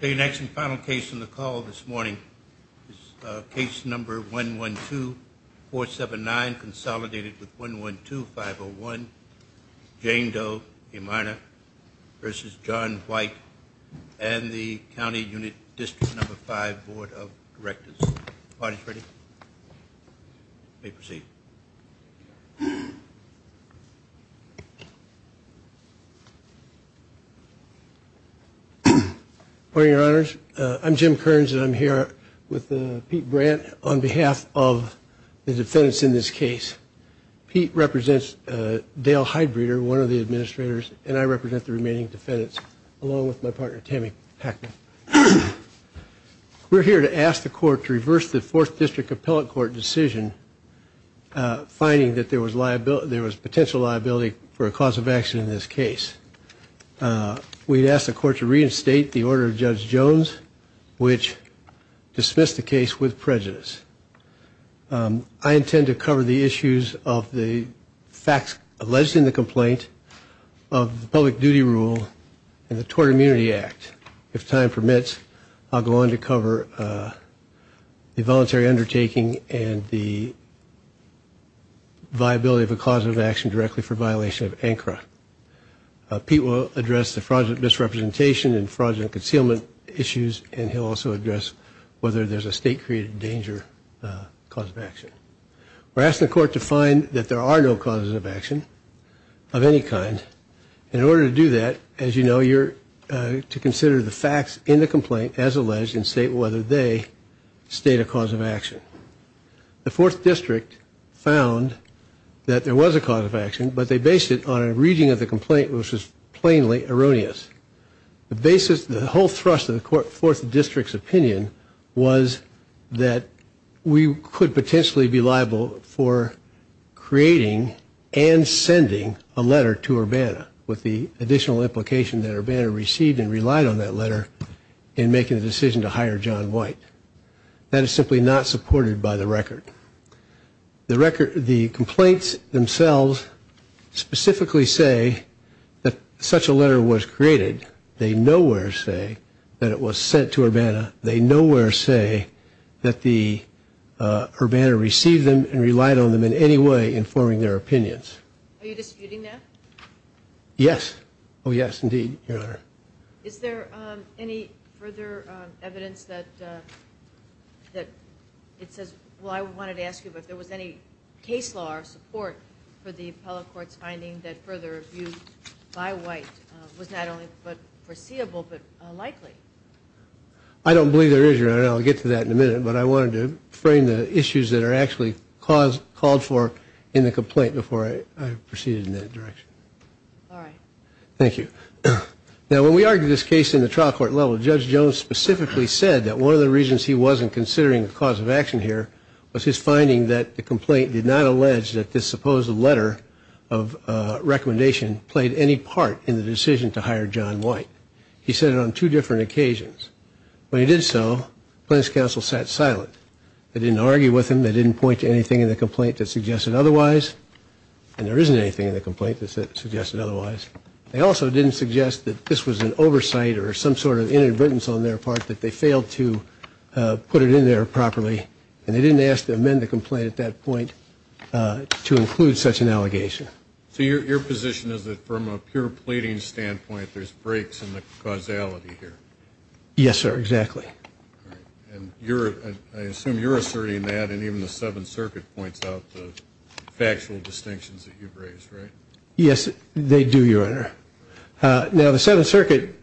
The next and final case on the call this morning is case number 112-479 consolidated with 112-501 Jane Doe v. John White and the County Unit District No. 5 Board of Directors. Audience ready? You may proceed. Your Honors, I'm Jim Kearns and I'm here with Pete Brandt on behalf of the defendants in this case. Pete represents Dale Heidbreder, one of the administrators, and I represent the remaining defendants along with my colleagues. We asked the court to reverse the 4th District Appellate Court decision finding that there was potential liability for a cause of action in this case. We'd asked the court to reinstate the order of Judge Jones which dismissed the case with prejudice. I intend to cover the issues of the facts alleged in the complaint of the public duty rule and the Tort Immunity Act. If time permits, I'll go on to cover the voluntary undertaking and the viability of a cause of action directly for violation of ANCRA. Pete will address the fraudulent misrepresentation and fraudulent concealment issues and he'll also address whether there's a state created danger cause of action. We're asking the court to find that there are no causes of action of any kind. In order to do that, as you know, you're to consider the facts in the complaint as alleged and state whether they state a cause of action. The 4th District found that there was a cause of action but they based it on a reading of the complaint which was plainly erroneous. The whole thrust of the 4th District's opinion was that we could potentially be liable for creating and sending a letter to Urbana. That is simply not supported by the record. The complaints themselves specifically say that such a letter was created. They nowhere say that it was sent to Urbana. They nowhere say that the Urbana received them and relied on them in any way informing their opinions. Are you disputing that? Yes, oh yes indeed, your honor. Is there any further evidence that it says, well I wanted to ask you if there was any case law or support for the appellate court's finding that further abuse by white was not only but foreseeable but likely? I don't believe there is, your honor, and I'll get to that in a minute, but I wanted to frame the case law for in the complaint before I proceeded in that direction. Thank you. Now when we argue this case in the trial court level, Judge Jones specifically said that one of the reasons he wasn't considering the cause of action here was his finding that the complaint did not allege that this supposed letter of recommendation played any part in the decision to hire John White. He said it on two different occasions. When he did so, the plaintiff's counsel sat silent. They didn't argue with him, they didn't point to anything in the complaint that suggested otherwise, and there isn't anything in the complaint that suggested otherwise. They also didn't suggest that this was an oversight or some sort of inadvertence on their part that they failed to put it in there properly, and they didn't ask to amend the complaint at that point to include such an allegation. So your position is that from a pure pleading standpoint, there's breaks in the causality here? Yes, sir, exactly. And I assume you're asserting that, and even the Seventh Circuit points out the factual distinctions that you've raised, right? Yes, they do, your honor. Now the Seventh Circuit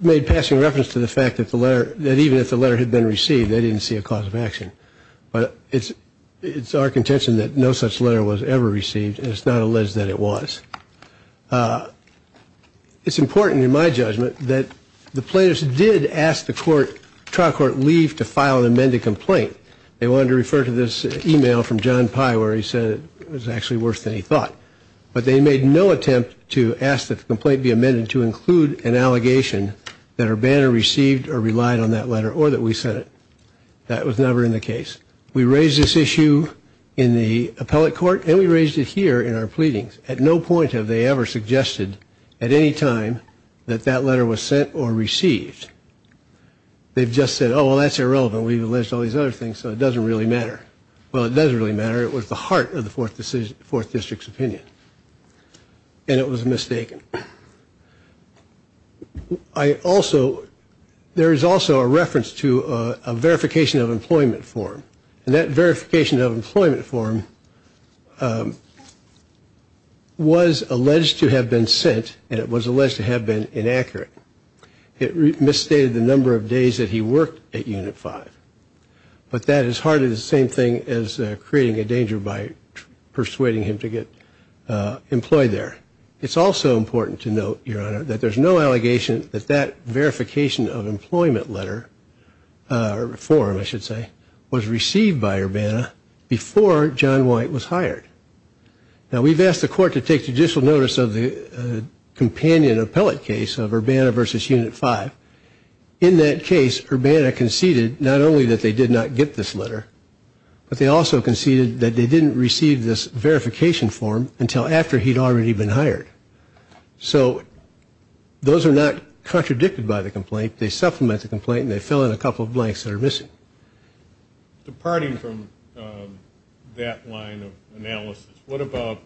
made passing reference to the fact that even if the letter had been received, they didn't see a cause of action. But it's our contention that no such letter was ever received, and it's not alleged that it was. It's important in my judgment that the plaintiffs did ask the trial court leave to file an amended complaint. They wanted to refer to this email from John Pye where he said it was actually worse than he thought. But they made no attempt to ask that the complaint be amended to include an allegation that Urbana received or relied on that letter or that we sent it. That was never in the case. We raised this issue in the appellate court, and we raised it here in our pleadings. At no point have they ever suggested at any time that that letter was sent or received. They've just said, oh, well, that's irrelevant. We've alleged all these other things, so it doesn't really matter. Well, it doesn't really matter. It was the heart of the Fourth District's opinion, and it was mistaken. There is also a reference to a verification of employment form, and that verification of employment form was alleged to have been sent, and it was alleged to have been inaccurate. It misstated the number of days that he worked at Unit 5. But that is hardly the same thing as creating a danger by persuading him to get employed there. It's also important to note, Your Honor, that there's no allegation that that verification of employment letter or form, I should say, was received by Urbana before John White was hired. Now, we've asked the court to take judicial notice of the companion appellate case of Urbana v. Unit 5. In that case, Urbana conceded not only that they did not get this letter, but they also conceded that they didn't receive this verification form until after he'd already been hired. So those are not contradicted by the complaint. They supplement the complaint, and they fill in a couple of blanks that are missing. Departing from that line of analysis, what about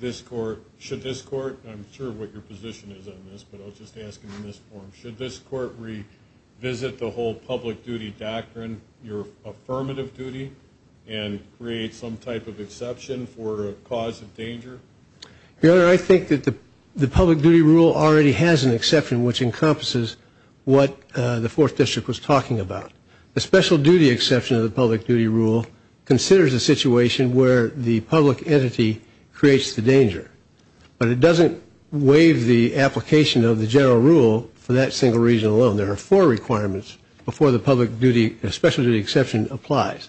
this court, should this court, I'm sure what your position is on this, but I'll just ask it in this form, should this court revisit the whole public duty doctrine, your affirmative duty, and create some type of exception for a cause of danger? Your Honor, I think that the public duty rule already has an exception, which encompasses what the Fourth District was talking about. The special duty exception of the public duty rule considers a situation where the public entity creates the danger. But it doesn't waive the application of the general rule for that single reason alone. There are four requirements before the public duty, special duty exception applies.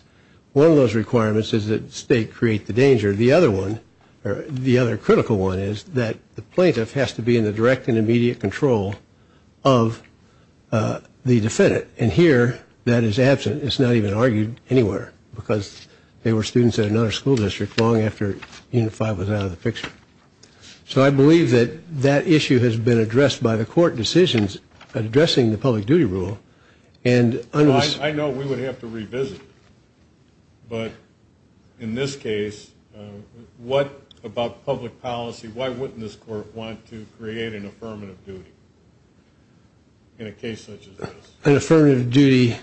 One of those requirements is that the state create the danger. The other one, or the other critical one, is that the plaintiff has to be in the direct and immediate control of the defendant. And here, that is absent. It's not even argued anywhere, because they were students at another school district long after Unit 5 was out of the picture. So I believe that that issue has been addressed by the court decisions addressing the public duty rule. I know we would have to revisit it. But in this case, what about public policy, why wouldn't this court want to create an affirmative duty in a case such as this? An affirmative duty?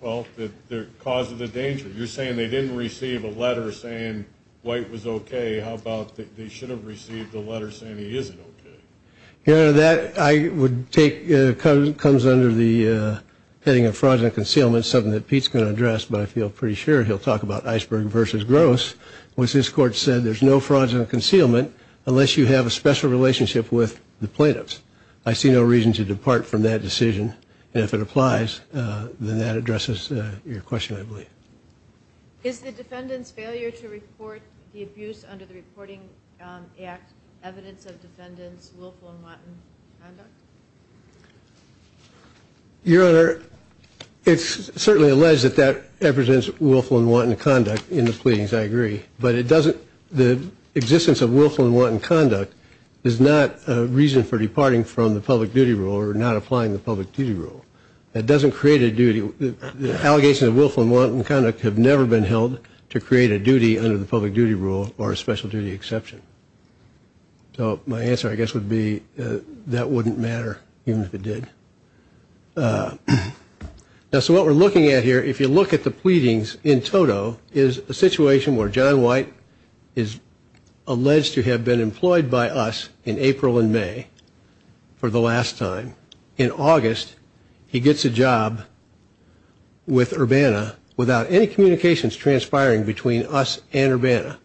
Well, the cause of the danger. You're saying they didn't receive a letter saying White was okay. How about they should have received a letter saying he isn't okay? Yeah, that comes under the heading of fraudulent concealment, something that Pete's going to address, but I feel pretty sure he'll talk about Iceberg versus Gross, which this court said there's no fraudulent concealment unless you have a special relationship with the plaintiffs. I see no reason to depart from that decision, and if it applies, then that addresses your question, I believe. Is the defendant's failure to report the abuse under the Reporting Act evidence of defendant's willful and wanton conduct? Your Honor, it's certainly alleged that that represents willful and wanton conduct in the pleadings, I agree. But the existence of willful and wanton conduct is not a reason for departing from the public duty rule or not applying the public duty rule. It doesn't create a duty. Allegations of willful and wanton conduct have never been held to create a duty under the public duty rule or a special duty exception. So my answer, I guess, would be that wouldn't matter, even if it did. Now, so what we're looking at here, if you look at the pleadings in total, is a situation where John White is alleged to have been employed by us in April and May for the last time. In August, he gets a job with Urbana without any communications transpiring between us and Urbana.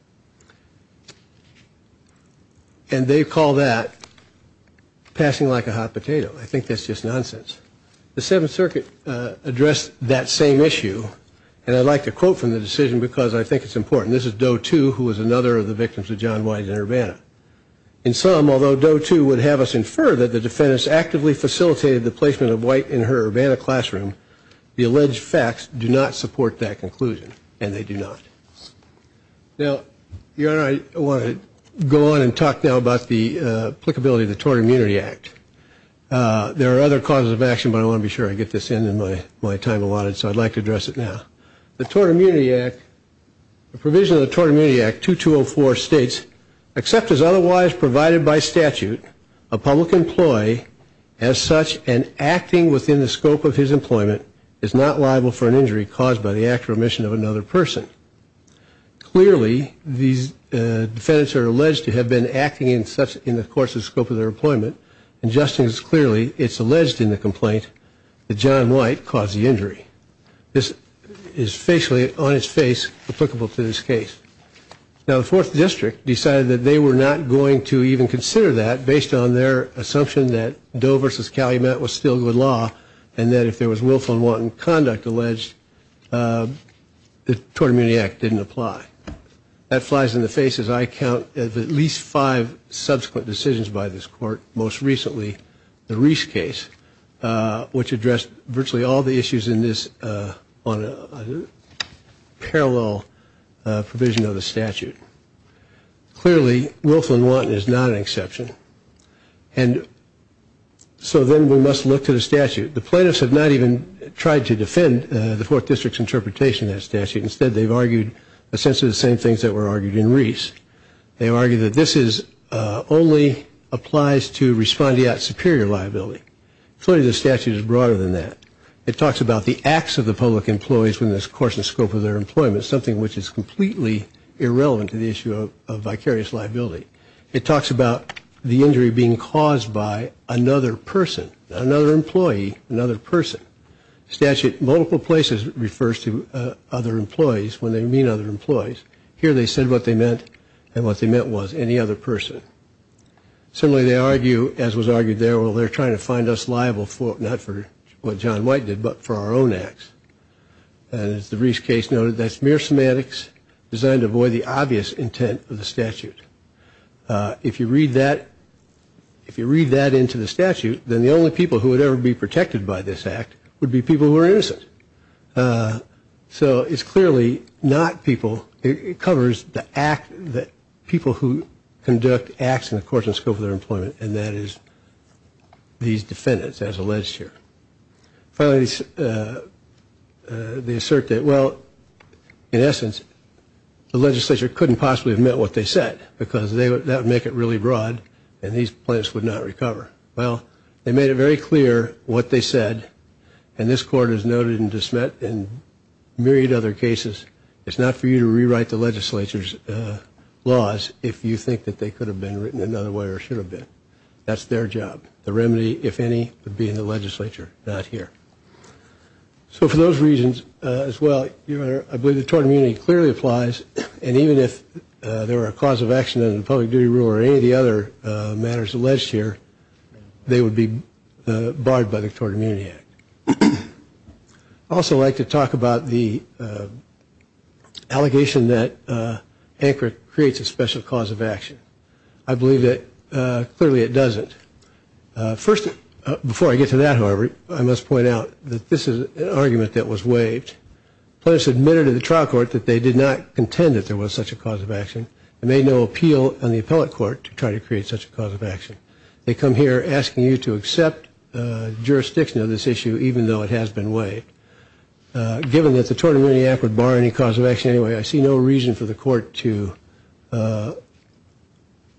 And they call that passing like a hot potato. I think that's just nonsense. The Seventh Circuit addressed that same issue. And I'd like to quote from the decision because I think it's important. This is Doe, too, who was another of the victims of John White in Urbana. In sum, although Doe, too, would have us infer that the defendants actively facilitated the placement of White in her Urbana classroom, the alleged facts do not support that conclusion. And they do not. Now, Your Honor, I want to go on and talk now about the applicability of the Tort Immunity Act. There are other causes of action, but I want to be sure I get this in in my time allotted, so I'd like to address it now. The Tort Immunity Act, the provision of the Tort Immunity Act 2204 states, except as otherwise provided by statute, a public employee, as such, and acting within the scope of his employment, is not liable for an injury caused by the act or omission of another person. Clearly, these defendants are alleged to have been acting in the course of the scope of their employment, and just as clearly, it's alleged in the complaint that John White caused the injury. This is facially, on its face, applicable to this case. Now, the Fourth District decided that they were not going to even consider that based on their assumption that Doe versus Calumet was still good law, and that if there was Wilflin-Wanton conduct alleged, the Tort Immunity Act didn't apply. That flies in the face, as I count, of at least five subsequent decisions by this court, most recently the Reese case, which addressed virtually all the issues in this on a parallel provision of the statute. Clearly, Wilflin-Wanton is not an exception. And so then we must look to the statute. The plaintiffs have not even tried to defend the Fourth District's interpretation of that statute. Instead, they've argued essentially the same things that were argued in Reese. They argue that this only applies to respondeat superior liability. Clearly, the statute is broader than that. It talks about the acts of the public employees within the course and scope of their employment, something which is completely irrelevant to the issue of vicarious liability. It talks about the injury being caused by another person, another employee, another person. The statute in multiple places refers to other employees when they mean other employees. Here they said what they meant, and what they meant was any other person. Similarly, they argue, as was argued there, well, they're trying to find us liable for, not for what John White did, but for our own acts. And as the Reese case noted, that's mere semantics designed to avoid the obvious intent of the statute. If you read that, if you read that into the statute, then the only people who would ever be protected by this act would be people who are innocent. So it's clearly not people. It covers the act that people who conduct acts in the course and scope of their employment, and that is these defendants, as alleged here. Finally, they assert that, well, in essence, the legislature couldn't possibly have meant what they said, because that would make it really broad, and these plaintiffs would not recover. Well, they made it very clear what they said, and this court has noted and dismissed in myriad other cases, it's not for you to rewrite the legislature's laws if you think that they could have been written another way or should have been. That's their job. The remedy, if any, would be in the legislature, not here. So for those reasons as well, I believe the tort immunity clearly applies, and even if there were a cause of action in the public duty rule or any of the other matters alleged here, they would be barred by the Tort Immunity Act. I'd also like to talk about the allegation that ANCRA creates a special cause of action. I believe that clearly it doesn't. First, before I get to that, however, I must point out that this is an argument that was waived. Plaintiffs admitted to the trial court that they did not contend that there was such a cause of action and made no appeal on the appellate court to try to create such a cause of action. They come here asking you to accept jurisdiction of this issue, even though it has been waived. Given that the Tort Immunity Act would bar any cause of action anyway, I see no reason for the court to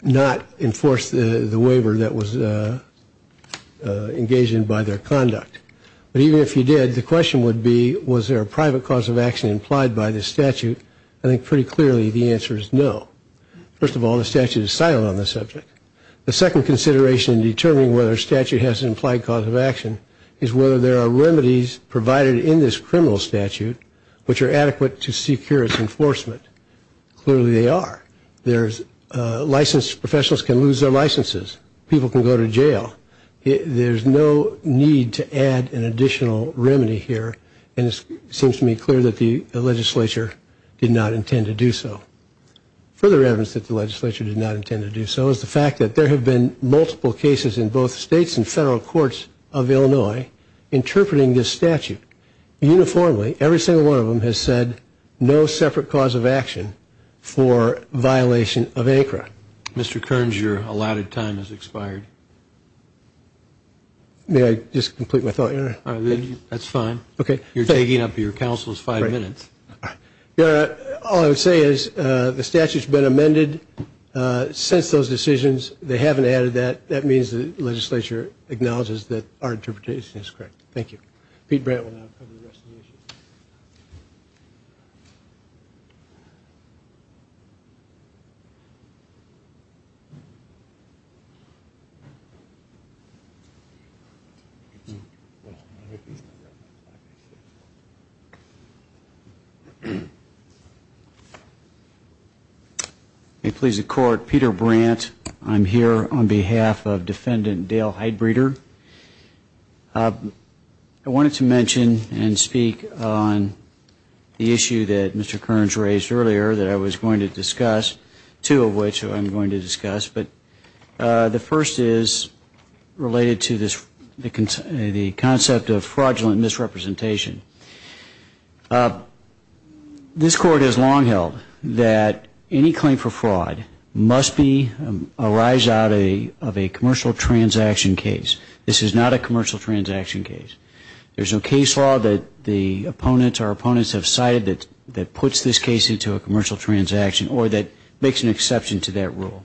not enforce the waiver that was engaged in by their conduct. But even if you did, the question would be, was there a private cause of action implied by this statute? I think pretty clearly the answer is no. First of all, the statute is silent on this subject. The second consideration in determining whether a statute has an implied cause of action is whether there are remedies provided in this criminal statute which are adequate to secure its enforcement. Clearly they are. Licensed professionals can lose their licenses. People can go to jail. There's no need to add an additional remedy here, and it seems to me clear that the legislature did not intend to do so. Further evidence that the legislature did not intend to do so is the fact that there have been multiple cases in both states and federal courts of Illinois interpreting this statute. Uniformly, every single one of them has said no separate cause of action for violation of ANCRA. Mr. Kearns, your allotted time has expired. May I just complete my thought here? That's fine. Okay. You're taking up your counsel's five minutes. All right. All I would say is the statute's been amended since those decisions. They haven't added that. That means the legislature acknowledges that our interpretation is correct. Thank you. Peter Brandt will now cover the rest of the issues. May it please the Court, Peter Brandt. I'm here on behalf of Defendant Dale Heidbreeder. I wanted to mention and speak on the issue that Mr. Kearns raised earlier that I was going to discuss, two of which I'm going to discuss. But the first is related to the concept of fraudulent misrepresentation. This Court has long held that any claim for fraud must arise out of a commercial transaction case. This is not a commercial transaction case. There's no case law that our opponents have cited that puts this case into a commercial transaction or that makes an exception to that rule.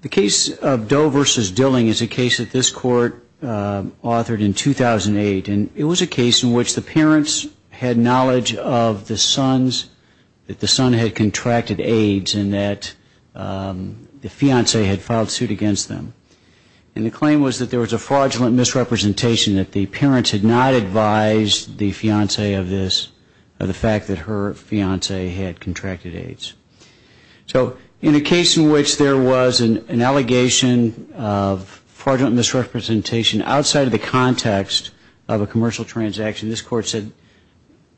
The case of Doe v. Dilling is a case that this Court authored in 2008. And it was a case in which the parents had knowledge of the sons, that the son had contracted AIDS and that the fiancée had filed suit against them. And the claim was that there was a fraudulent misrepresentation, that the parents had not advised the fiancée of this, of the fact that her fiancée had contracted AIDS. So in a case in which there was an allegation of fraudulent misrepresentation outside of the context of a commercial transaction, this Court said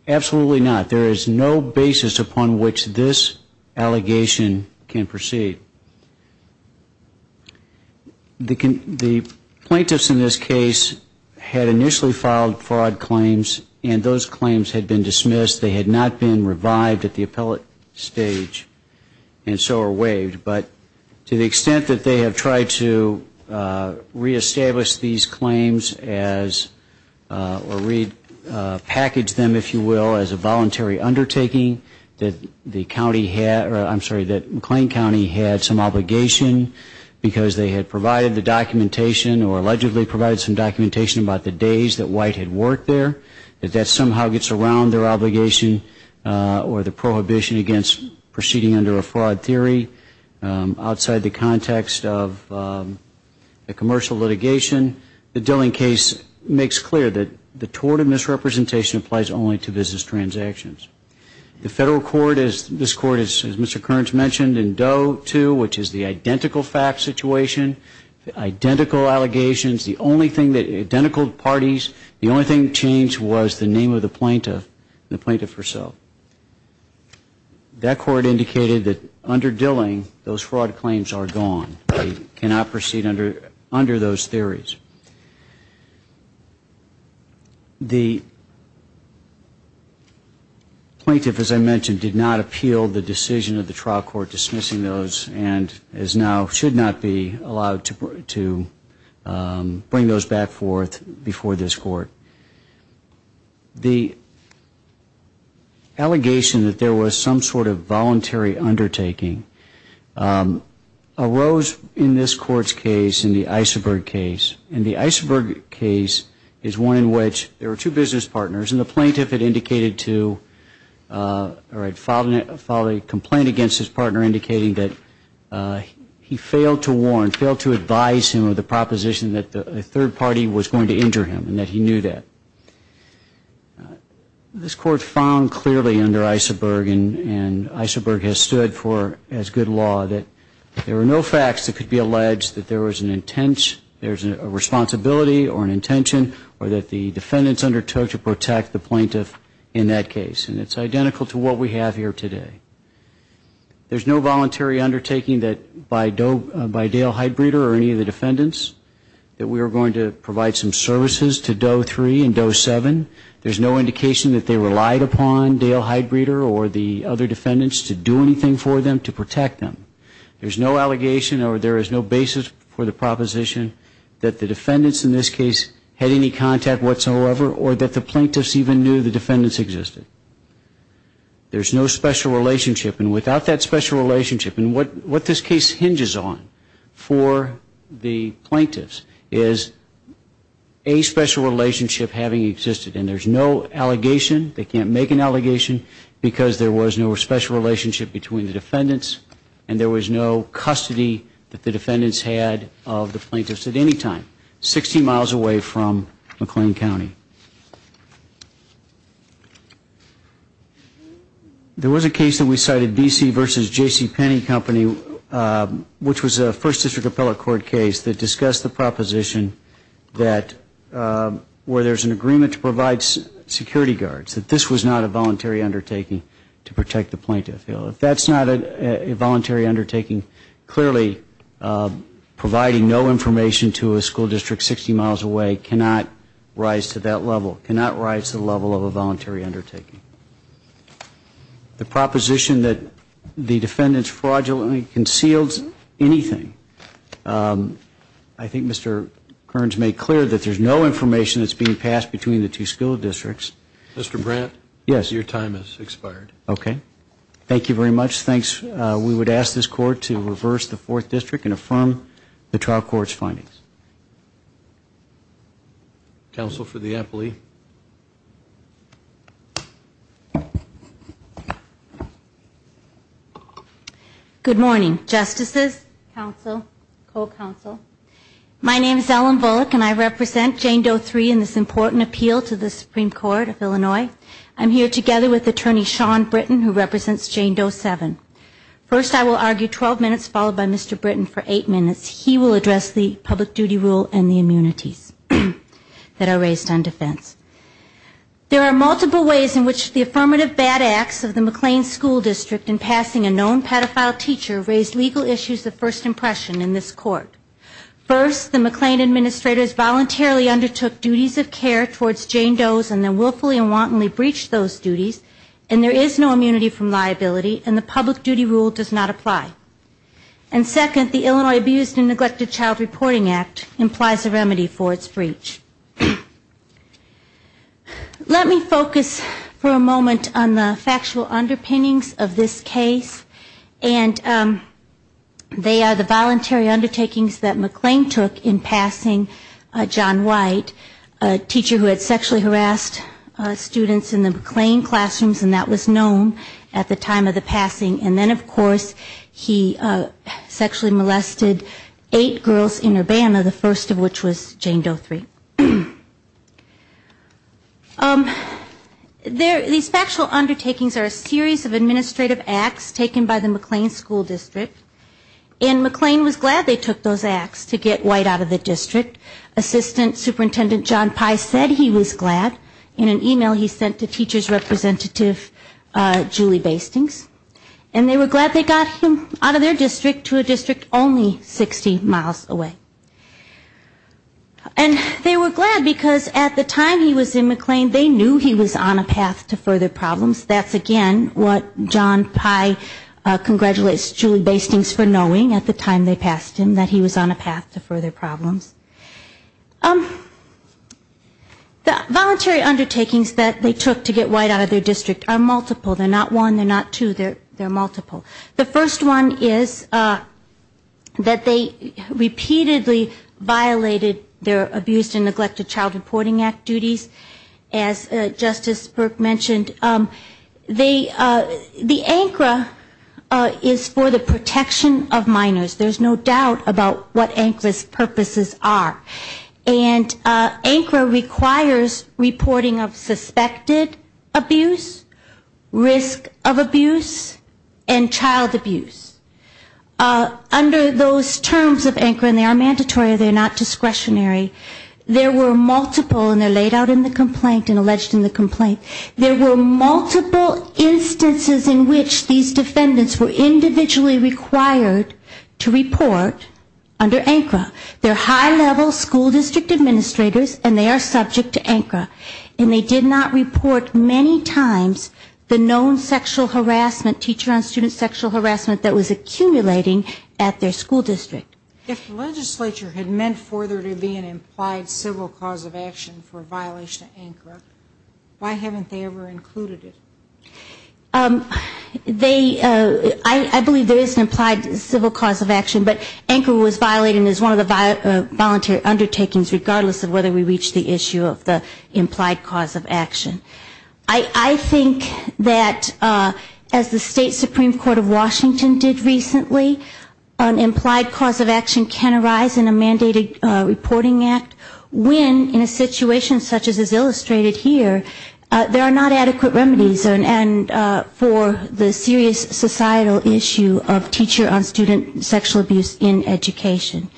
absolutely not. There is no basis upon which this allegation can proceed. The plaintiffs in this case had initially filed fraud claims and those claims had been dismissed. They had not been revived at the appellate stage and so are waived. But to the extent that they have tried to reestablish these claims or repackage them, if you will, as a voluntary undertaking, that McLean County had some obligation because they had provided the documentation or allegedly provided some documentation about the days that White had worked there, that that somehow gets around their obligation or the prohibition against proceeding under a fraud theory outside the context of a commercial litigation, the Dilling case makes clear that the tort of misrepresentation applies only to business transactions. The Federal Court, this Court, as Mr. Kearns mentioned, in Doe 2, which is the identical fact situation, identical allegations, the only thing that, identical parties, the only thing that changed was the name of the plaintiff and the plaintiff herself. That Court indicated that under Dilling, those fraud claims are gone. They cannot proceed under those theories. The plaintiff, as I mentioned, did not appeal the decision of the trial court dismissing those and is now, should not be allowed to bring those back forth before this Court. The allegation that there was some sort of voluntary undertaking arose in this Court's case, in the Eisenberg case, and the Eisenberg case is one in which there were two business partners and the plaintiff had indicated to, or had filed a complaint against his partner indicating that he failed to warn, failed to advise him of the proposition that a third party was going to injure him and that he knew that. This Court found clearly under Eisenberg, and Eisenberg has stood for as good law, that there were no facts that could be alleged that there was an intent, there's a responsibility or an intention or that the defendants undertook to protect the plaintiff in that case. And it's identical to what we have here today. There's no voluntary undertaking that by Doe, by Dale Heidbreeder or any of the defendants that we are going to provide some services to Doe 3 and Doe 7. There's no indication that they relied upon Dale Heidbreeder or the other defendants to do anything for them to protect them. There's no allegation or there is no basis for the proposition that the defendants in this case had any contact whatsoever or that the plaintiffs even knew the defendants existed. There's no special relationship and without that special relationship, and what this case hinges on for the plaintiffs is a special relationship having existed. And there's no allegation, they can't make an allegation, because there was no special relationship between the defendants and there was no custody that the defendants had of the plaintiffs at any time. Sixty miles away from McLean County. There was a case that we cited, B.C. v. J.C. Penney Company, which was a First District Appellate Court case that discussed the proposition that where there's an agreement to provide security guards, that this was not a voluntary undertaking to protect the plaintiff. If that's not a voluntary undertaking, clearly providing no information to a school district 60 miles away cannot rise to that level, cannot rise to the level of a voluntary undertaking. The proposition that the defendants fraudulently concealed anything, I think Mr. Kearns made clear that there's no information that's being passed between the two school districts. Mr. Brandt? Yes. Your time has expired. Okay. Thank you very much. Thanks. We would ask this Court to reverse the Fourth District and affirm the trial court's findings. Counsel for the appellee. Good morning, Justices, counsel, co-counsel. My name is Ellen Bullock and I represent Jane Doe III in this important appeal to the Supreme Court of Illinois. I'm here together with Attorney Sean Britton who represents Jane Doe VII. First, I will argue 12 minutes followed by Mr. Britton for eight minutes. He will address the public duty rule and the immunities that are raised on defense. There are multiple ways in which the affirmative bad acts of the McLean School District in passing a known pedophile teacher raised legal issues of first impression in this court. First, the McLean administrators voluntarily undertook duties of care towards Jane Doe's and then willfully and wantonly breached those duties and there is no immunity from liability and the public duty rule does not apply. And second, the Illinois Abused and Neglected Child Reporting Act implies a remedy for its breach. Let me focus for a moment on the factual underpinnings of this case and they are the voluntary undertakings that McLean took in passing John White, a teacher who had sexually harassed students in the McLean classrooms and that was known at the time of the passing and then of course he sexually molested eight girls in Urbana, the first of which was Jane Doe III. These factual undertakings are a series of administrative acts taken by the McLean School District and McLean was glad they took those acts to get White out of the district. Assistant Superintendent John Pye said he was glad. In an email he sent to teacher's representative Julie Bastings and they were glad they got him out of their district to a district only 60 miles away. And they were glad because at the time he was in McLean, they knew he was on a path to further problems. That's again what John Pye congratulates Julie Bastings for knowing at the time they passed him that he was on a path to further problems. The voluntary undertakings that they took to get White out of their district are multiple. They're not one, they're not two, they're multiple. The first one is that they repeatedly violated their Abuse and Neglected Child Reporting Act duties. As Justice Burke mentioned, the ANCRA is for the protection of minors. There's no doubt about what ANCRA's purposes are. And ANCRA requires reporting of suspected abuse, risk of abuse, and child abuse. Under those terms of ANCRA, and they are mandatory, they're not discretionary, there were multiple, and they're laid out in the complaint and alleged in the complaint, there were multiple instances in which these defendants were individually required to report under ANCRA. They're high level school district administrators and they are subject to ANCRA. And they did not report many times the known sexual harassment, teacher on student sexual harassment that was accumulating at their school district. If the legislature had meant for there to be an implied civil cause of action for a violation of ANCRA, why haven't they ever included it? They, I believe there is an implied civil cause of action, but ANCRA was violated as one of the voluntary undertakings regardless of whether we reach the issue of the implied cause of action. I think that as the state Supreme Court of Washington did recently, an implied cause of action can arise in a mandated reporting act when in a situation such as is illustrated here, there are not adequate remedies and for the serious societal issue of teacher on student sexual abuse in education.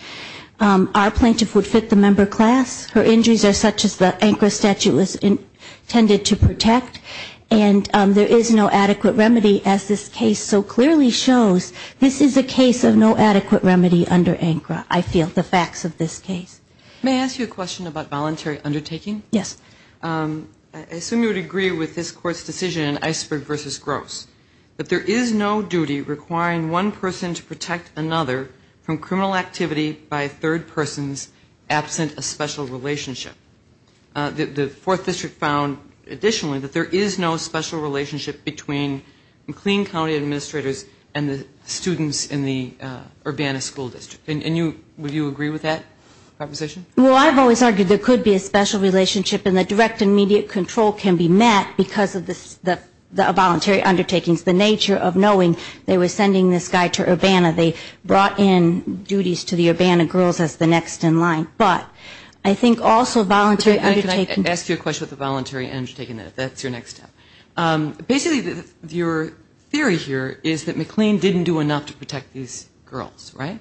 Our plaintiff would fit the member class. Her injuries are such as the ANCRA statute was intended to protect. And there is no adequate remedy as this case so clearly shows. This is a case of no adequate remedy under ANCRA, I feel, the facts of this case. May I ask you a question about voluntary undertaking? Yes. I assume you would agree with this Court's decision in Iceberg v. Gross that there is no duty requiring one person to protect another from criminal activity by a third person's absent a special relationship. The Fourth District found additionally that there is no special relationship between McLean County administrators and the students in the Urbana School District. And would you agree with that proposition? Well, I've always argued there could be a special relationship and that direct and immediate control can be met because of the voluntary undertakings, the nature of knowing they were sending this guy to Urbana. They brought in duties to the Urbana girls as the next in line. But I think also voluntary undertaking. May I ask you a question with the voluntary undertaking? That's your next step. Basically your theory here is that McLean didn't do enough to protect these girls, right?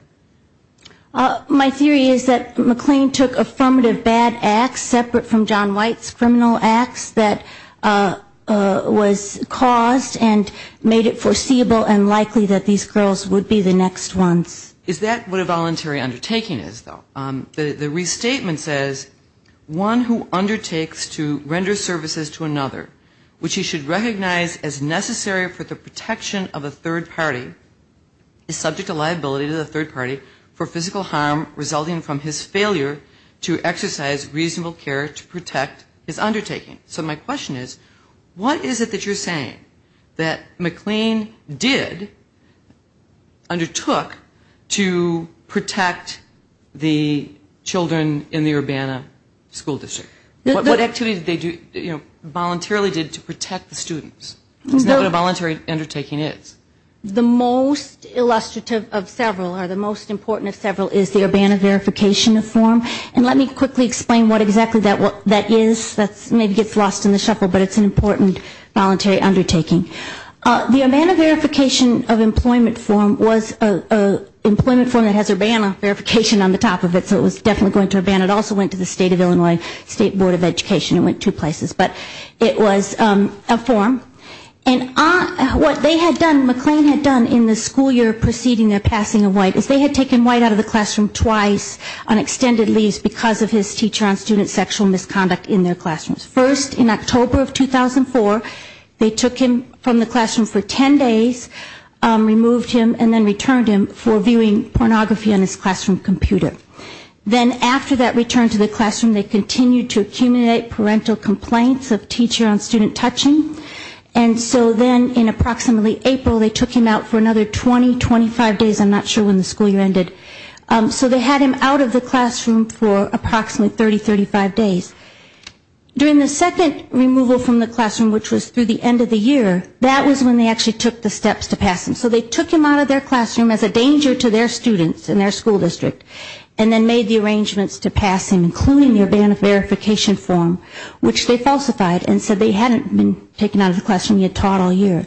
My theory is that McLean took affirmative bad acts separate from John White's criminal acts that was caused and made it foreseeable and likely that these girls would be the next ones. Is that what a voluntary undertaking is, though? The restatement says one who undertakes to render services to another which he should recognize as necessary for the protection of a third party is subject to liability to the third party for physical harm resulting from his failure to exercise reasonable care to protect his undertaking. So my question is, what is it that you're saying that McLean did, undertook to protect the children in the Urbana school district? What activities did they do, you know, voluntarily did to protect the students? Is that what a voluntary undertaking is? The most illustrative of several or the most important is the Urbana Verification of Form. And let me quickly explain what exactly that is. That maybe gets lost in the shuffle, but it's an important voluntary undertaking. The Urbana Verification of Employment Form was an employment form that has Urbana verification on the top of it, so it was definitely going to Urbana. It also went to the State of Illinois State Board of Education. It went two places. But it was a form. And what they had done, McLean had done in the school year preceding their release on extended leaves because of his teacher on student sexual misconduct in their classrooms. First, in October of 2004, they took him from the classroom for 10 days, removed him, and then returned him for viewing pornography on his classroom computer. Then after that return to the classroom, they continued to accumulate parental complaints of teacher on student touching. And so then in approximately April, they took him out for another 20, 25 days, I'm not sure when the school year ended. So they had him out of the classroom for approximately 30, 35 days. During the second removal from the classroom, which was through the end of the year, that was when they actually took the steps to pass him. So they took him out of their classroom as a danger to their students in their school district, and then made the arrangements to pass him, including the Urbana verification form, which they falsified and said they hadn't been taken out of the classroom, he had taught all year.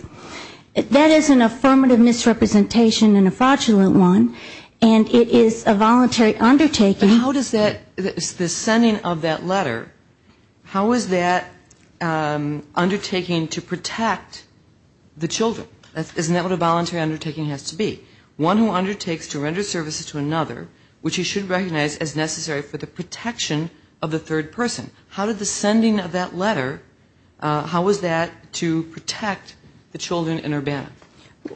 That is an affirmative misrepresentation and a fraudulent one, and it is a voluntary undertaking. But how does that, the sending of that letter, how is that undertaking to protect the children? Isn't that what a voluntary undertaking has to be? One who undertakes to render services to another, which he should recognize as necessary for the protection of the third person. How did the sending of that letter, how was that to protect the children in Urbana?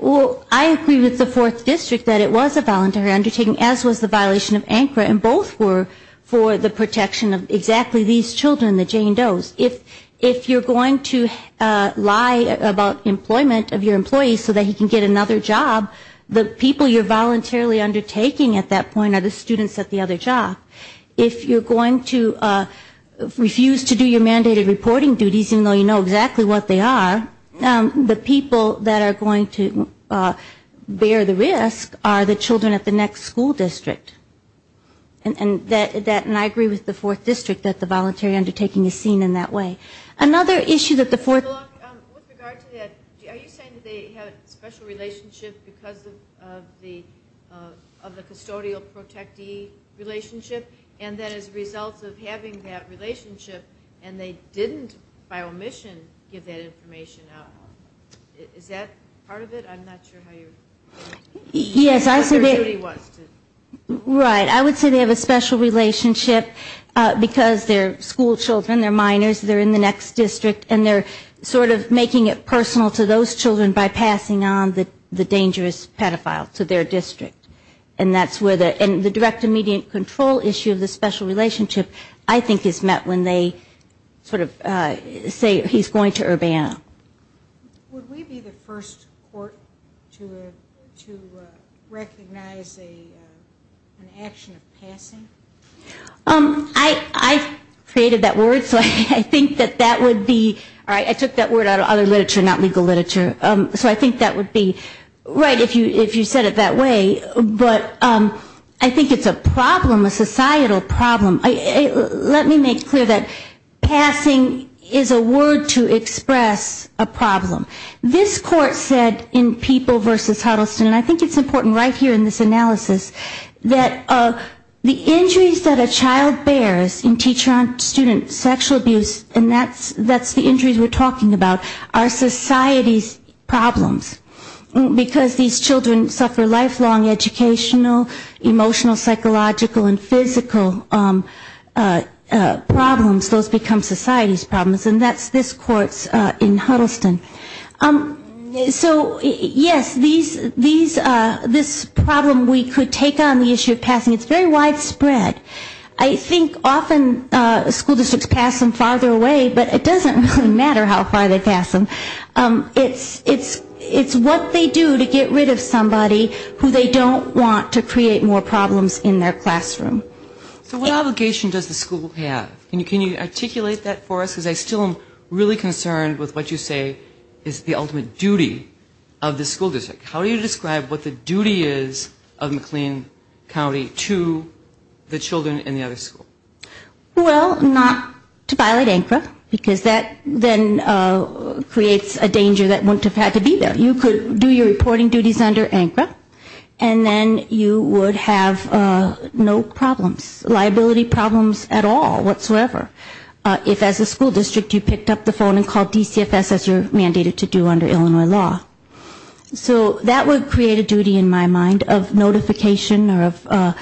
Well, I agree with the fourth district that it was a voluntary undertaking, as was the violation of ANCRA, and both were for the protection of exactly these children, the Jane Does. If you're going to lie about employment of your employees so that he can get another job, the people you're voluntarily undertaking at that point are the students at the other job. If you're going to refuse to do your mandated reporting duties, even though you know exactly what they are, the people that are going to bear the risk are the children at the next school district. And I agree with the fourth district that the voluntary undertaking is seen in that way. Another issue that the fourth district... Are you saying that they have a special relationship because of the custodial protegee relationship, and that as a result of having that relationship, they didn't, by omission, give that information out? Is that part of it? I'm not sure how you're... Yes, I would say they have a special relationship because they're school children, they're minors, they're in the next district, and they're sort of making it personal to those children by passing on the dangerous pedophile to their district. And that's where the direct immediate control issue of the special relationship, I think, is met when they sort of say he's going to Urbana. Would we be the first court to recognize an action of passing? I created that word, so I think that that would be... I took that word out of other literature, not legal literature. So I think that would be right if you said it that way. But I think it's a problem, a societal problem. Let me make clear that passing is a word to express a problem. This court said in People v. Huddleston, and I think it's important right here in this analysis, that the injuries that a child bears in teacher-on-student sexual abuse, and that's the injuries we're talking about, are society's problems. Because these children suffer lifelong educational, emotional, psychological, and physical problems, those become society's problems. And that's this court's in Huddleston. So yes, this problem we could take on the issue of passing, it's very widespread. I think often school districts pass them farther away, but it doesn't really matter how far they pass them. It's what they do to get rid of somebody who they don't want to create more problems in their classroom. So what obligation does the school have? Can you articulate that for us? Because I still am really concerned with what you say is the ultimate duty of the school district. How do you describe what the duty is of McLean County to the children in the other school? Well, not to violate ANCRA, because that then creates a danger that wouldn't have had to be there. You could do your reporting duties under ANCRA, and then you would have no problems, liability problems at all, whatsoever. If as a school district you picked up the phone and called DCFS as you're mandated to do under Illinois law. So that would create a duty in my mind of notification or of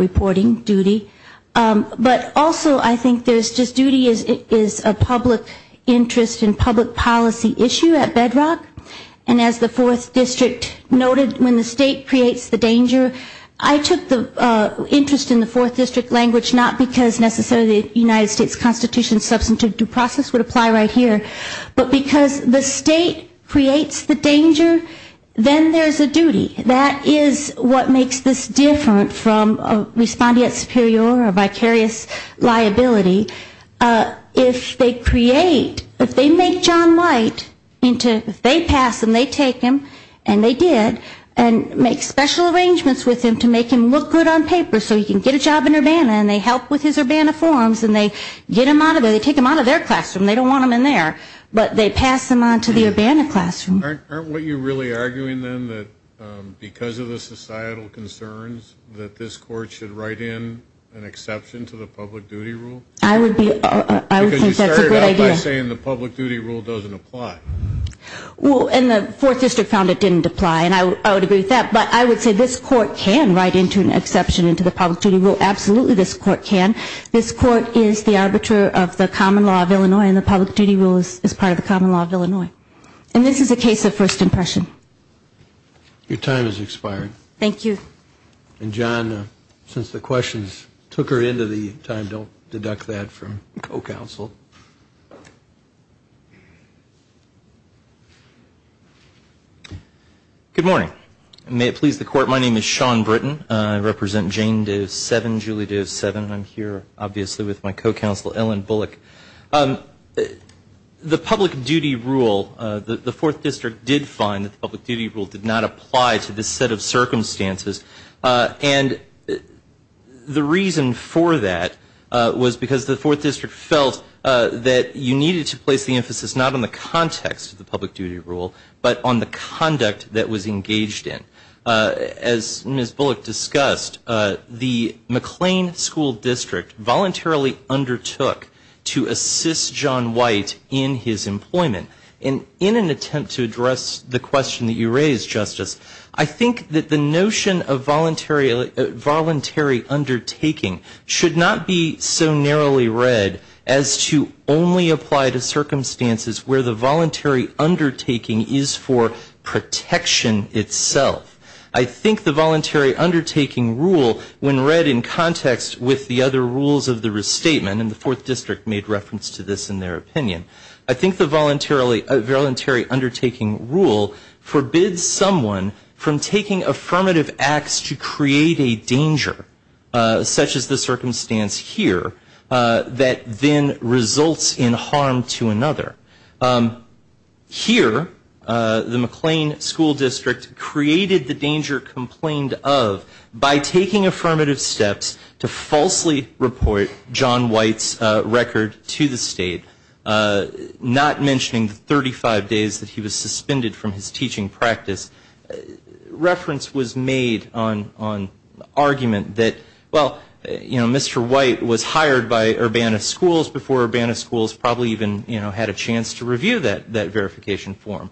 reporting duty. But also I think there's just duty is a public interest and public policy issue at Bedrock. And as the fourth district noted, when the state creates the danger, I took the interest in the fourth district language not because necessarily the United States Constitution's substantive due process would apply right here, but because the state creates the danger, then there's a duty. That is what makes this different from respondeat superior or vicarious liability. If they create, if they make John White into, if they pass him, they take him, and they did, and make special arrangements with him to make him look good on paper so he can get a job in Urbana, and they help with his Urbana forms, and they get him out of there, they take him out of their classroom, they don't want him in there, but they pass him on to the Urbana classroom. Aren't you really arguing then that because of the societal concerns that this court should write in an exception to the public duty rule? I would be, I would think that's a good idea. Because you started out by saying the public duty rule doesn't apply. Well, and the fourth district found it didn't apply, and I would agree with that, but I would say this court can write into an exception into the public duty rule, absolutely this court can. This court is the arbiter of the common law of Illinois, and the public duty rule is part of the common law of Illinois. And this is a case of first impression. Your time has expired. Thank you. And John, since the questions took her into the time, don't deduct that from the co-counsel. Good morning. May it please the court, my name is Sean Britton. I represent Jane Doe 7, Julie Doe 7. I'm here, obviously, with my co-counsel, Ellen Bullock. The public duty rule, the fourth district did find that the public duty rule did not apply to this set of circumstances. And the reason for that was because the fourth district felt that you needed to place the emphasis not on the context of the public duty rule, but on the conduct that was engaged in. As Ms. Bullock discussed, the McLean School District voluntarily undertook to assist John White in his employment. And in an attempt to address the question that you raised, Justice, I think that the notion of voluntary undertaking should not be so narrowly read as to only apply to circumstances where the voluntary undertaking is for protection itself. I think the voluntary undertaking rule, when read in context with the other rules of the restatement, and the fourth district made reference to this in their opinion, I think the voluntary undertaking rule forbids someone from taking affirmative acts to create a danger, such as the circumstance here, that then results in harm to another. Here, the McLean School District created the danger complained of by taking affirmative steps to falsely report John White's record to the state, not mentioning the 35 days that he was suspended from his teaching practice. Reference was made on argument that, well, Mr. White was hired by Urbana Schools before Urbana Schools probably even had a chance to review that verification form.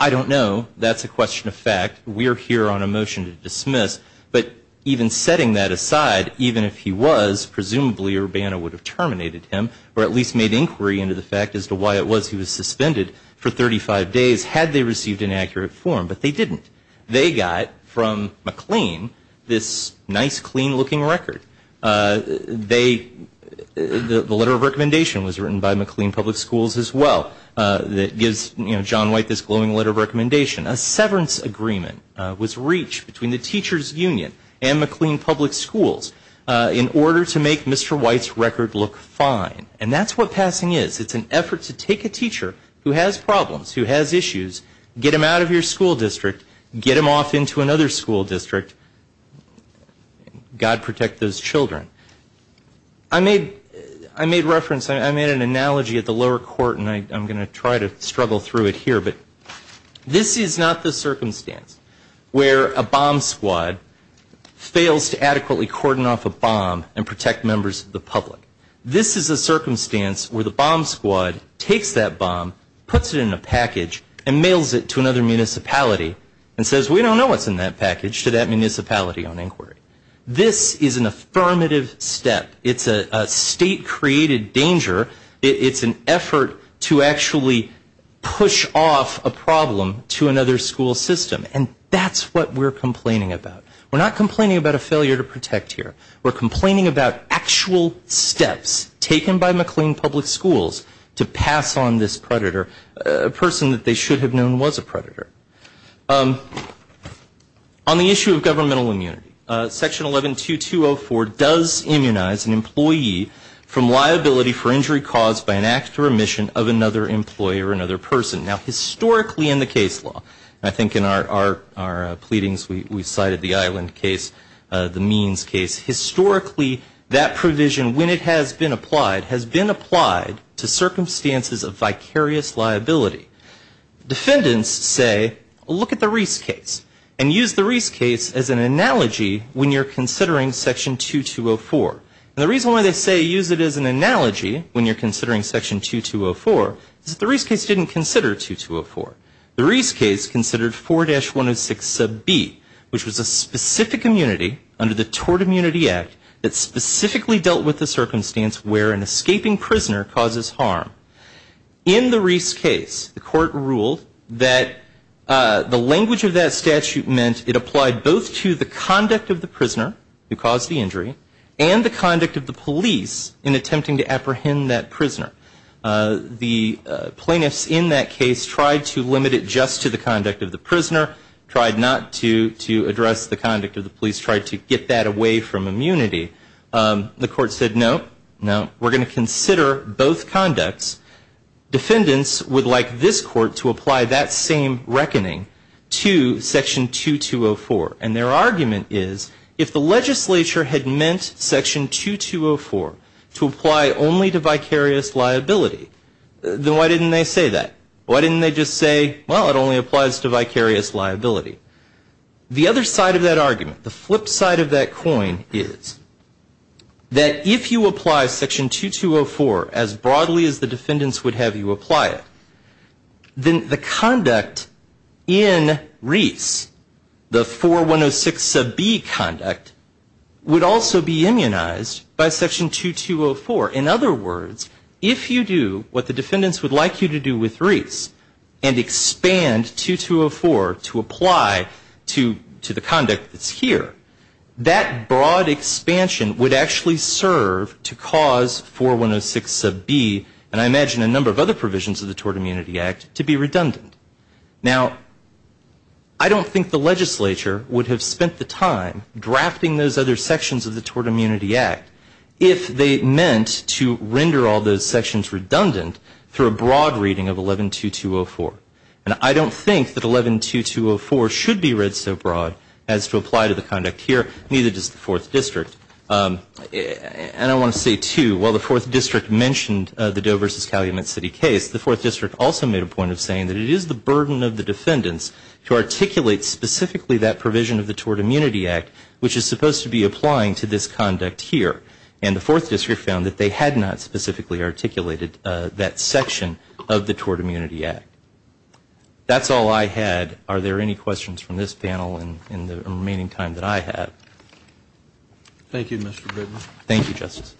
I don't know. That's a question of fact. We are here on a motion to dismiss. But even setting that aside, even if he was, presumably Urbana would have terminated him, or at least made inquiry into the fact as to why it was he was suspended for 35 days had they received an accurate form. But they didn't. They got from McLean this nice, clean-looking record. The letter of recommendation was written by McLean Public Schools as well that gives John White this glowing letter of recommendation. A severance agreement was reached between the Teachers Union and McLean Public Schools in order to make Mr. White's record look fine. And that's what passing is. It's an effort to take a teacher who has problems, who has issues, get them out of your school district, get them off into another school district. God protect those children. I made reference, I made an analogy at the lower court, and I'm going to try to struggle through it here, but this is not the circumstance where a bomb squad fails to adequately cordon off a bomb and protect members of the public. This is a circumstance where the school puts it in a package and mails it to another municipality and says we don't know what's in that package to that municipality on inquiry. This is an affirmative step. It's a state-created danger. It's an effort to actually push off a problem to another school system. And that's what we're complaining about. We're not complaining about a failure to protect here. We're complaining about actual steps taken by McLean Public Schools to pass on this predator, a person that they should have known was a predator. On the issue of governmental immunity, Section 112204 does immunize an employee from liability for injury caused by an act or omission of another employee or another person. Now, historically in the case law, I think in our pleadings we cited the Island case, the Means case, historically that provision, when it has been applied, has been applied to circumstances of vicarious liability. Defendants say look at the Reese case and use the Reese case as an analogy when you're considering Section 2204. And the reason why they say use it as an analogy when you're considering Section 2204 is that the Reese case didn't consider 2204. The Reese case considered 4-106 sub B, which was a specific immunity under the Tort Immunity Act that specifically dealt with the circumstance where an escaping prisoner causes harm. In the Reese case, the court ruled that the language of that statute meant it applied both to the conduct of the prisoner who caused the injury and the conduct of the police in attempting to apprehend that prisoner. The plaintiffs in that case tried to limit it just to the conduct of the prisoner, tried not to address the conduct of the police, tried to get that away from immunity. The court said no, no, we're going to consider both conducts. Defendants would like this court to apply that same reckoning to Section 2204. And their argument is if the legislature had meant Section 2204 to apply only to vicarious liability, then why didn't they say that? Why didn't they just say, well, it only applies to vicarious liability? The other side of that argument, the flip side of that coin is that if you apply Section 2204 as broadly as the defendants would have you apply it, then the conduct in Reese, the 4106 sub B conduct, would also be immunized by Section 2204. In other words, if you do what the defendants would like you to do with Reese and expand 2204 to apply to the conduct that's here, that broad expansion would actually serve to cause 4106 sub B and I imagine a number of other provisions of the Tort Immunity Act to be redundant. Now, I don't think the legislature would have spent the time drafting those other sections of the Tort Immunity Act if they meant to render all those sections redundant through a broad reading of 112204. And I don't think that 112204 should be read so broad as to apply to the conduct here, neither does the 4th District. And I want to say too, while the 4th District mentioned the Doe v. Calumet City case, the 4th District also made a point of saying that it is the burden of the defendants to articulate specifically that provision of the Tort Immunity Act which is supposed to be applying to this conduct here. And the 4th District found that they had not specifically articulated that section of the Tort Immunity Act. That's all I had. Are there any questions from this panel in the remaining time that I have? Thank you, Mr. Goodman. Thank you, Justice.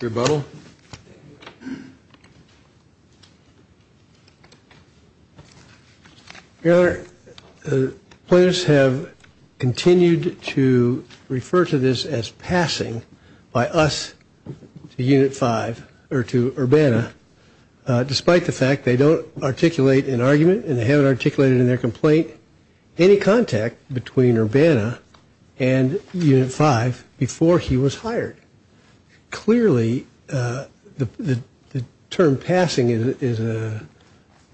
Your Honor, the plaintiffs have continued to refer to this as passing by us to Unit 5, or to Urbana, despite the fact they don't articulate an argument and they haven't articulated in their complaint any contact between Urbana and Unit 5 before he was hired. Clearly, the term passing is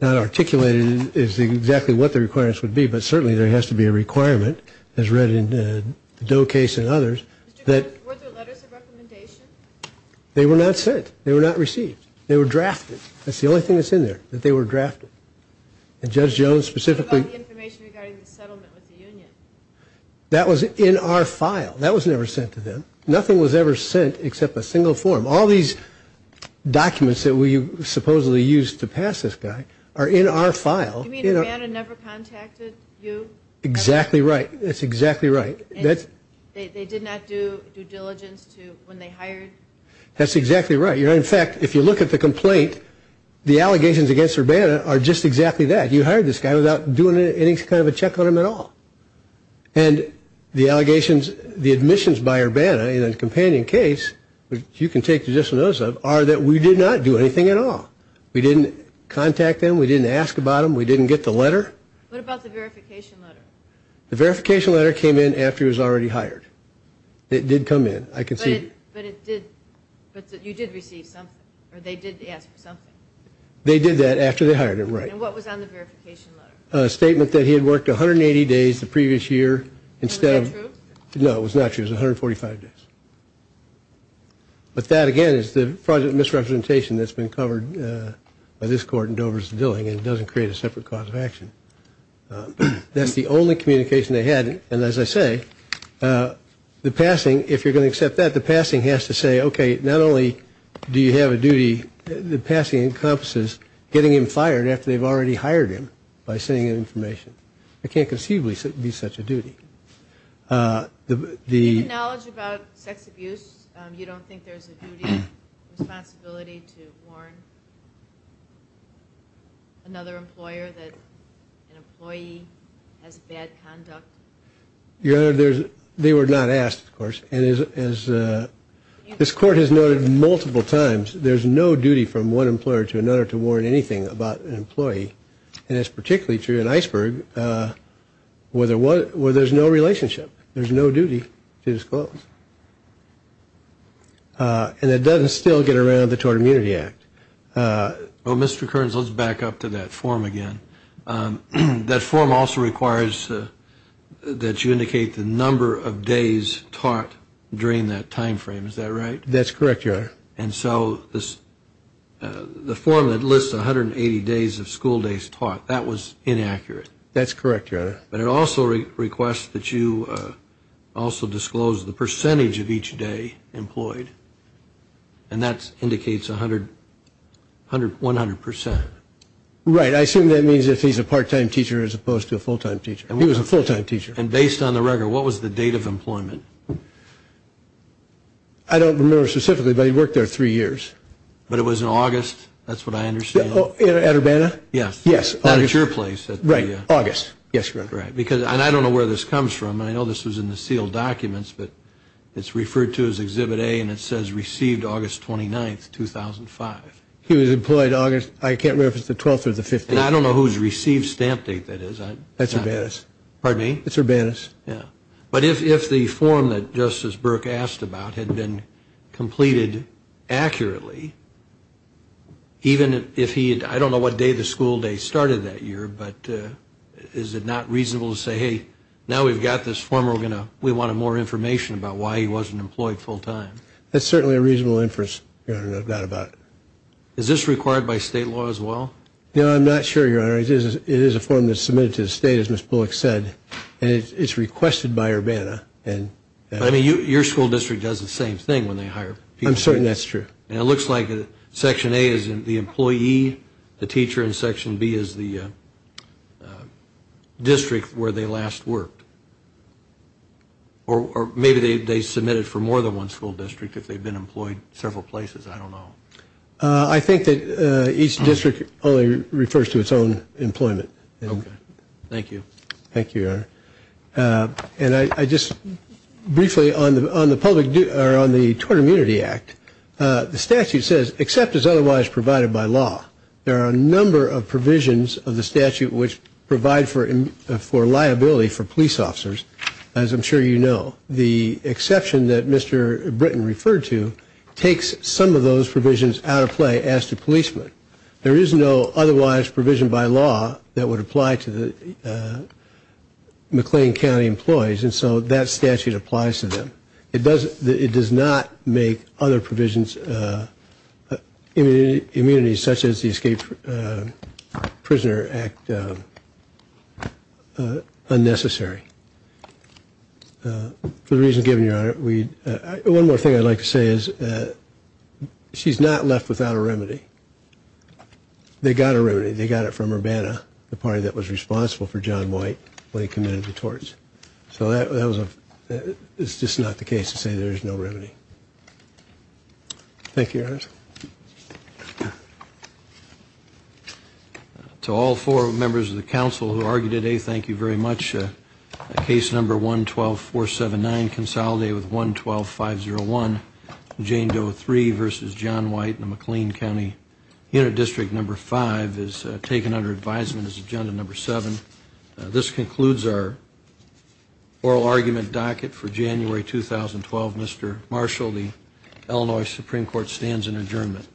not articulated as exactly what the requirements would be, but certainly there has to be a requirement, as read in the Doe case and others. Were there letters of recommendation? They were not sent. They were not received. They were drafted. That's the only thing that's in there, that they were drafted. And Judge Jones specifically... That was in our file. That was never sent to them. Nothing was ever sent except a single form. All these documents that we supposedly used to pass this guy are in our file. You mean Urbana never contacted you? Exactly right. That's exactly right. They did not do due diligence to when they were hired. In fact, if you look at the complaint, the allegations against Urbana are just exactly that. You hired this guy without doing any kind of a check on him at all. And the allegations, the admissions by Urbana in a companion case, which you can take judicial notice of, are that we did not do anything at all. We didn't contact them. We didn't ask about them. We didn't get the letter. What about the verification letter? The verification letter came in after he was already hired. It did come in. But you did receive something, or they did ask for something? They did that after they hired him, right. And what was on the verification letter? A statement that he had worked 180 days the previous year. Was that true? No, it was not true. It was 145 days. But that again is the misrepresentation that's been covered by this court in Dover v. Dilling, and it doesn't create a separate cause of action. That's the only communication they had, and as I say, the passing, if you're going to accept that, the passing has to say, okay, not only do you have a duty, the passing encompasses getting him fired after they've already hired him by sending him information. It can't conceivably be such a duty. Do you have knowledge about sex abuse? You don't think there's a duty or responsibility to warn another employer that an employee has bad conduct? Your Honor, they were not asked, of course, and this court has noted multiple times there's no duty from one employer to another to warn anything about an employee, and it's particularly true in Iceberg where there's no relationship. There's no duty to disclose. And it doesn't still get around the Tort Immunity Act. Well, Mr. Kearns, let's back up to that form again. That form also requires that you indicate the number of days taught during that time frame. Is that right? That's correct, Your Honor. And so the form that lists 180 days of school days taught, that was inaccurate. That's correct, Your Honor. But it also requests that you also disclose the percentage of each day employed, and that indicates 100 percent. Right. I assume that means if he's a part-time teacher as opposed to a full-time teacher. He was a full-time teacher. And based on the record, what was the date of employment? I don't remember specifically, but he worked there three years. But it was in August? That's what I understand. At Urbana? Yes. Not at your place. Right. August. Yes, Your Honor. And I don't know where this comes from. I know this was in the sealed documents, but it's referred to as Exhibit A, and it says received August 29, 2005. He was employed August, I can't remember if it's the 12th or the 15th. And I don't know whose received stamp date that is. That's Urbana's. Pardon me? It's Urbana's. Yeah. But if the form that Justice Burke asked about had been completed accurately, even if he had, I don't know what day the school day started that year, but is it not reasonable to say, hey, now we've got this form, we want more information about why he wasn't employed full-time? That's certainly a reasonable inference, Your Honor, that I've got about it. Is this required by state law as well? No, I'm not sure, Your Honor. It is a form that's submitted to the state, as Ms. Bullock said, and it's requested by Urbana. I mean, your school district does the same thing when they hire people. I'm certain that's true. And it looks like Section A is the employee, the teacher, and Section B is the district where they last worked. Or maybe they submitted for more than one school district if they've been employed several places. I don't know. I think that each district only refers to its own employment. Thank you. Thank you, Your Honor. And I just briefly, on the Tort Immunity Act, the statute says, except as otherwise provided by law, there are a number of provisions of the statute which provide for liability for police officers, as I'm sure you know. The exception that Mr. Britton referred to takes some of those provisions out of play as to policemen. There is no otherwise provision by law that would apply to the McLean County employees, and so that statute applies to them. It does not make other provisions immunity, such as the Escape Prisoner Act unnecessary. For the reasons given, Your Honor, one more thing I'd like to say is she's not left without a remedy. They got a remedy. They got it from Urbana, the party that was responsible for John White when he committed the torts. It's just not the case to say there's no remedy. Thank you, Your Honor. To all four members of the Council who argued today, thank you very much. Case number 112-479 consolidated with 112-501. Jane Doe 3 v. John White in the McLean County Unit District No. 5 is taken under advisement as Agenda No. 7. This concludes our oral argument docket for January 2012. Mr. Marshall, the Illinois Supreme Court stands in adjournment.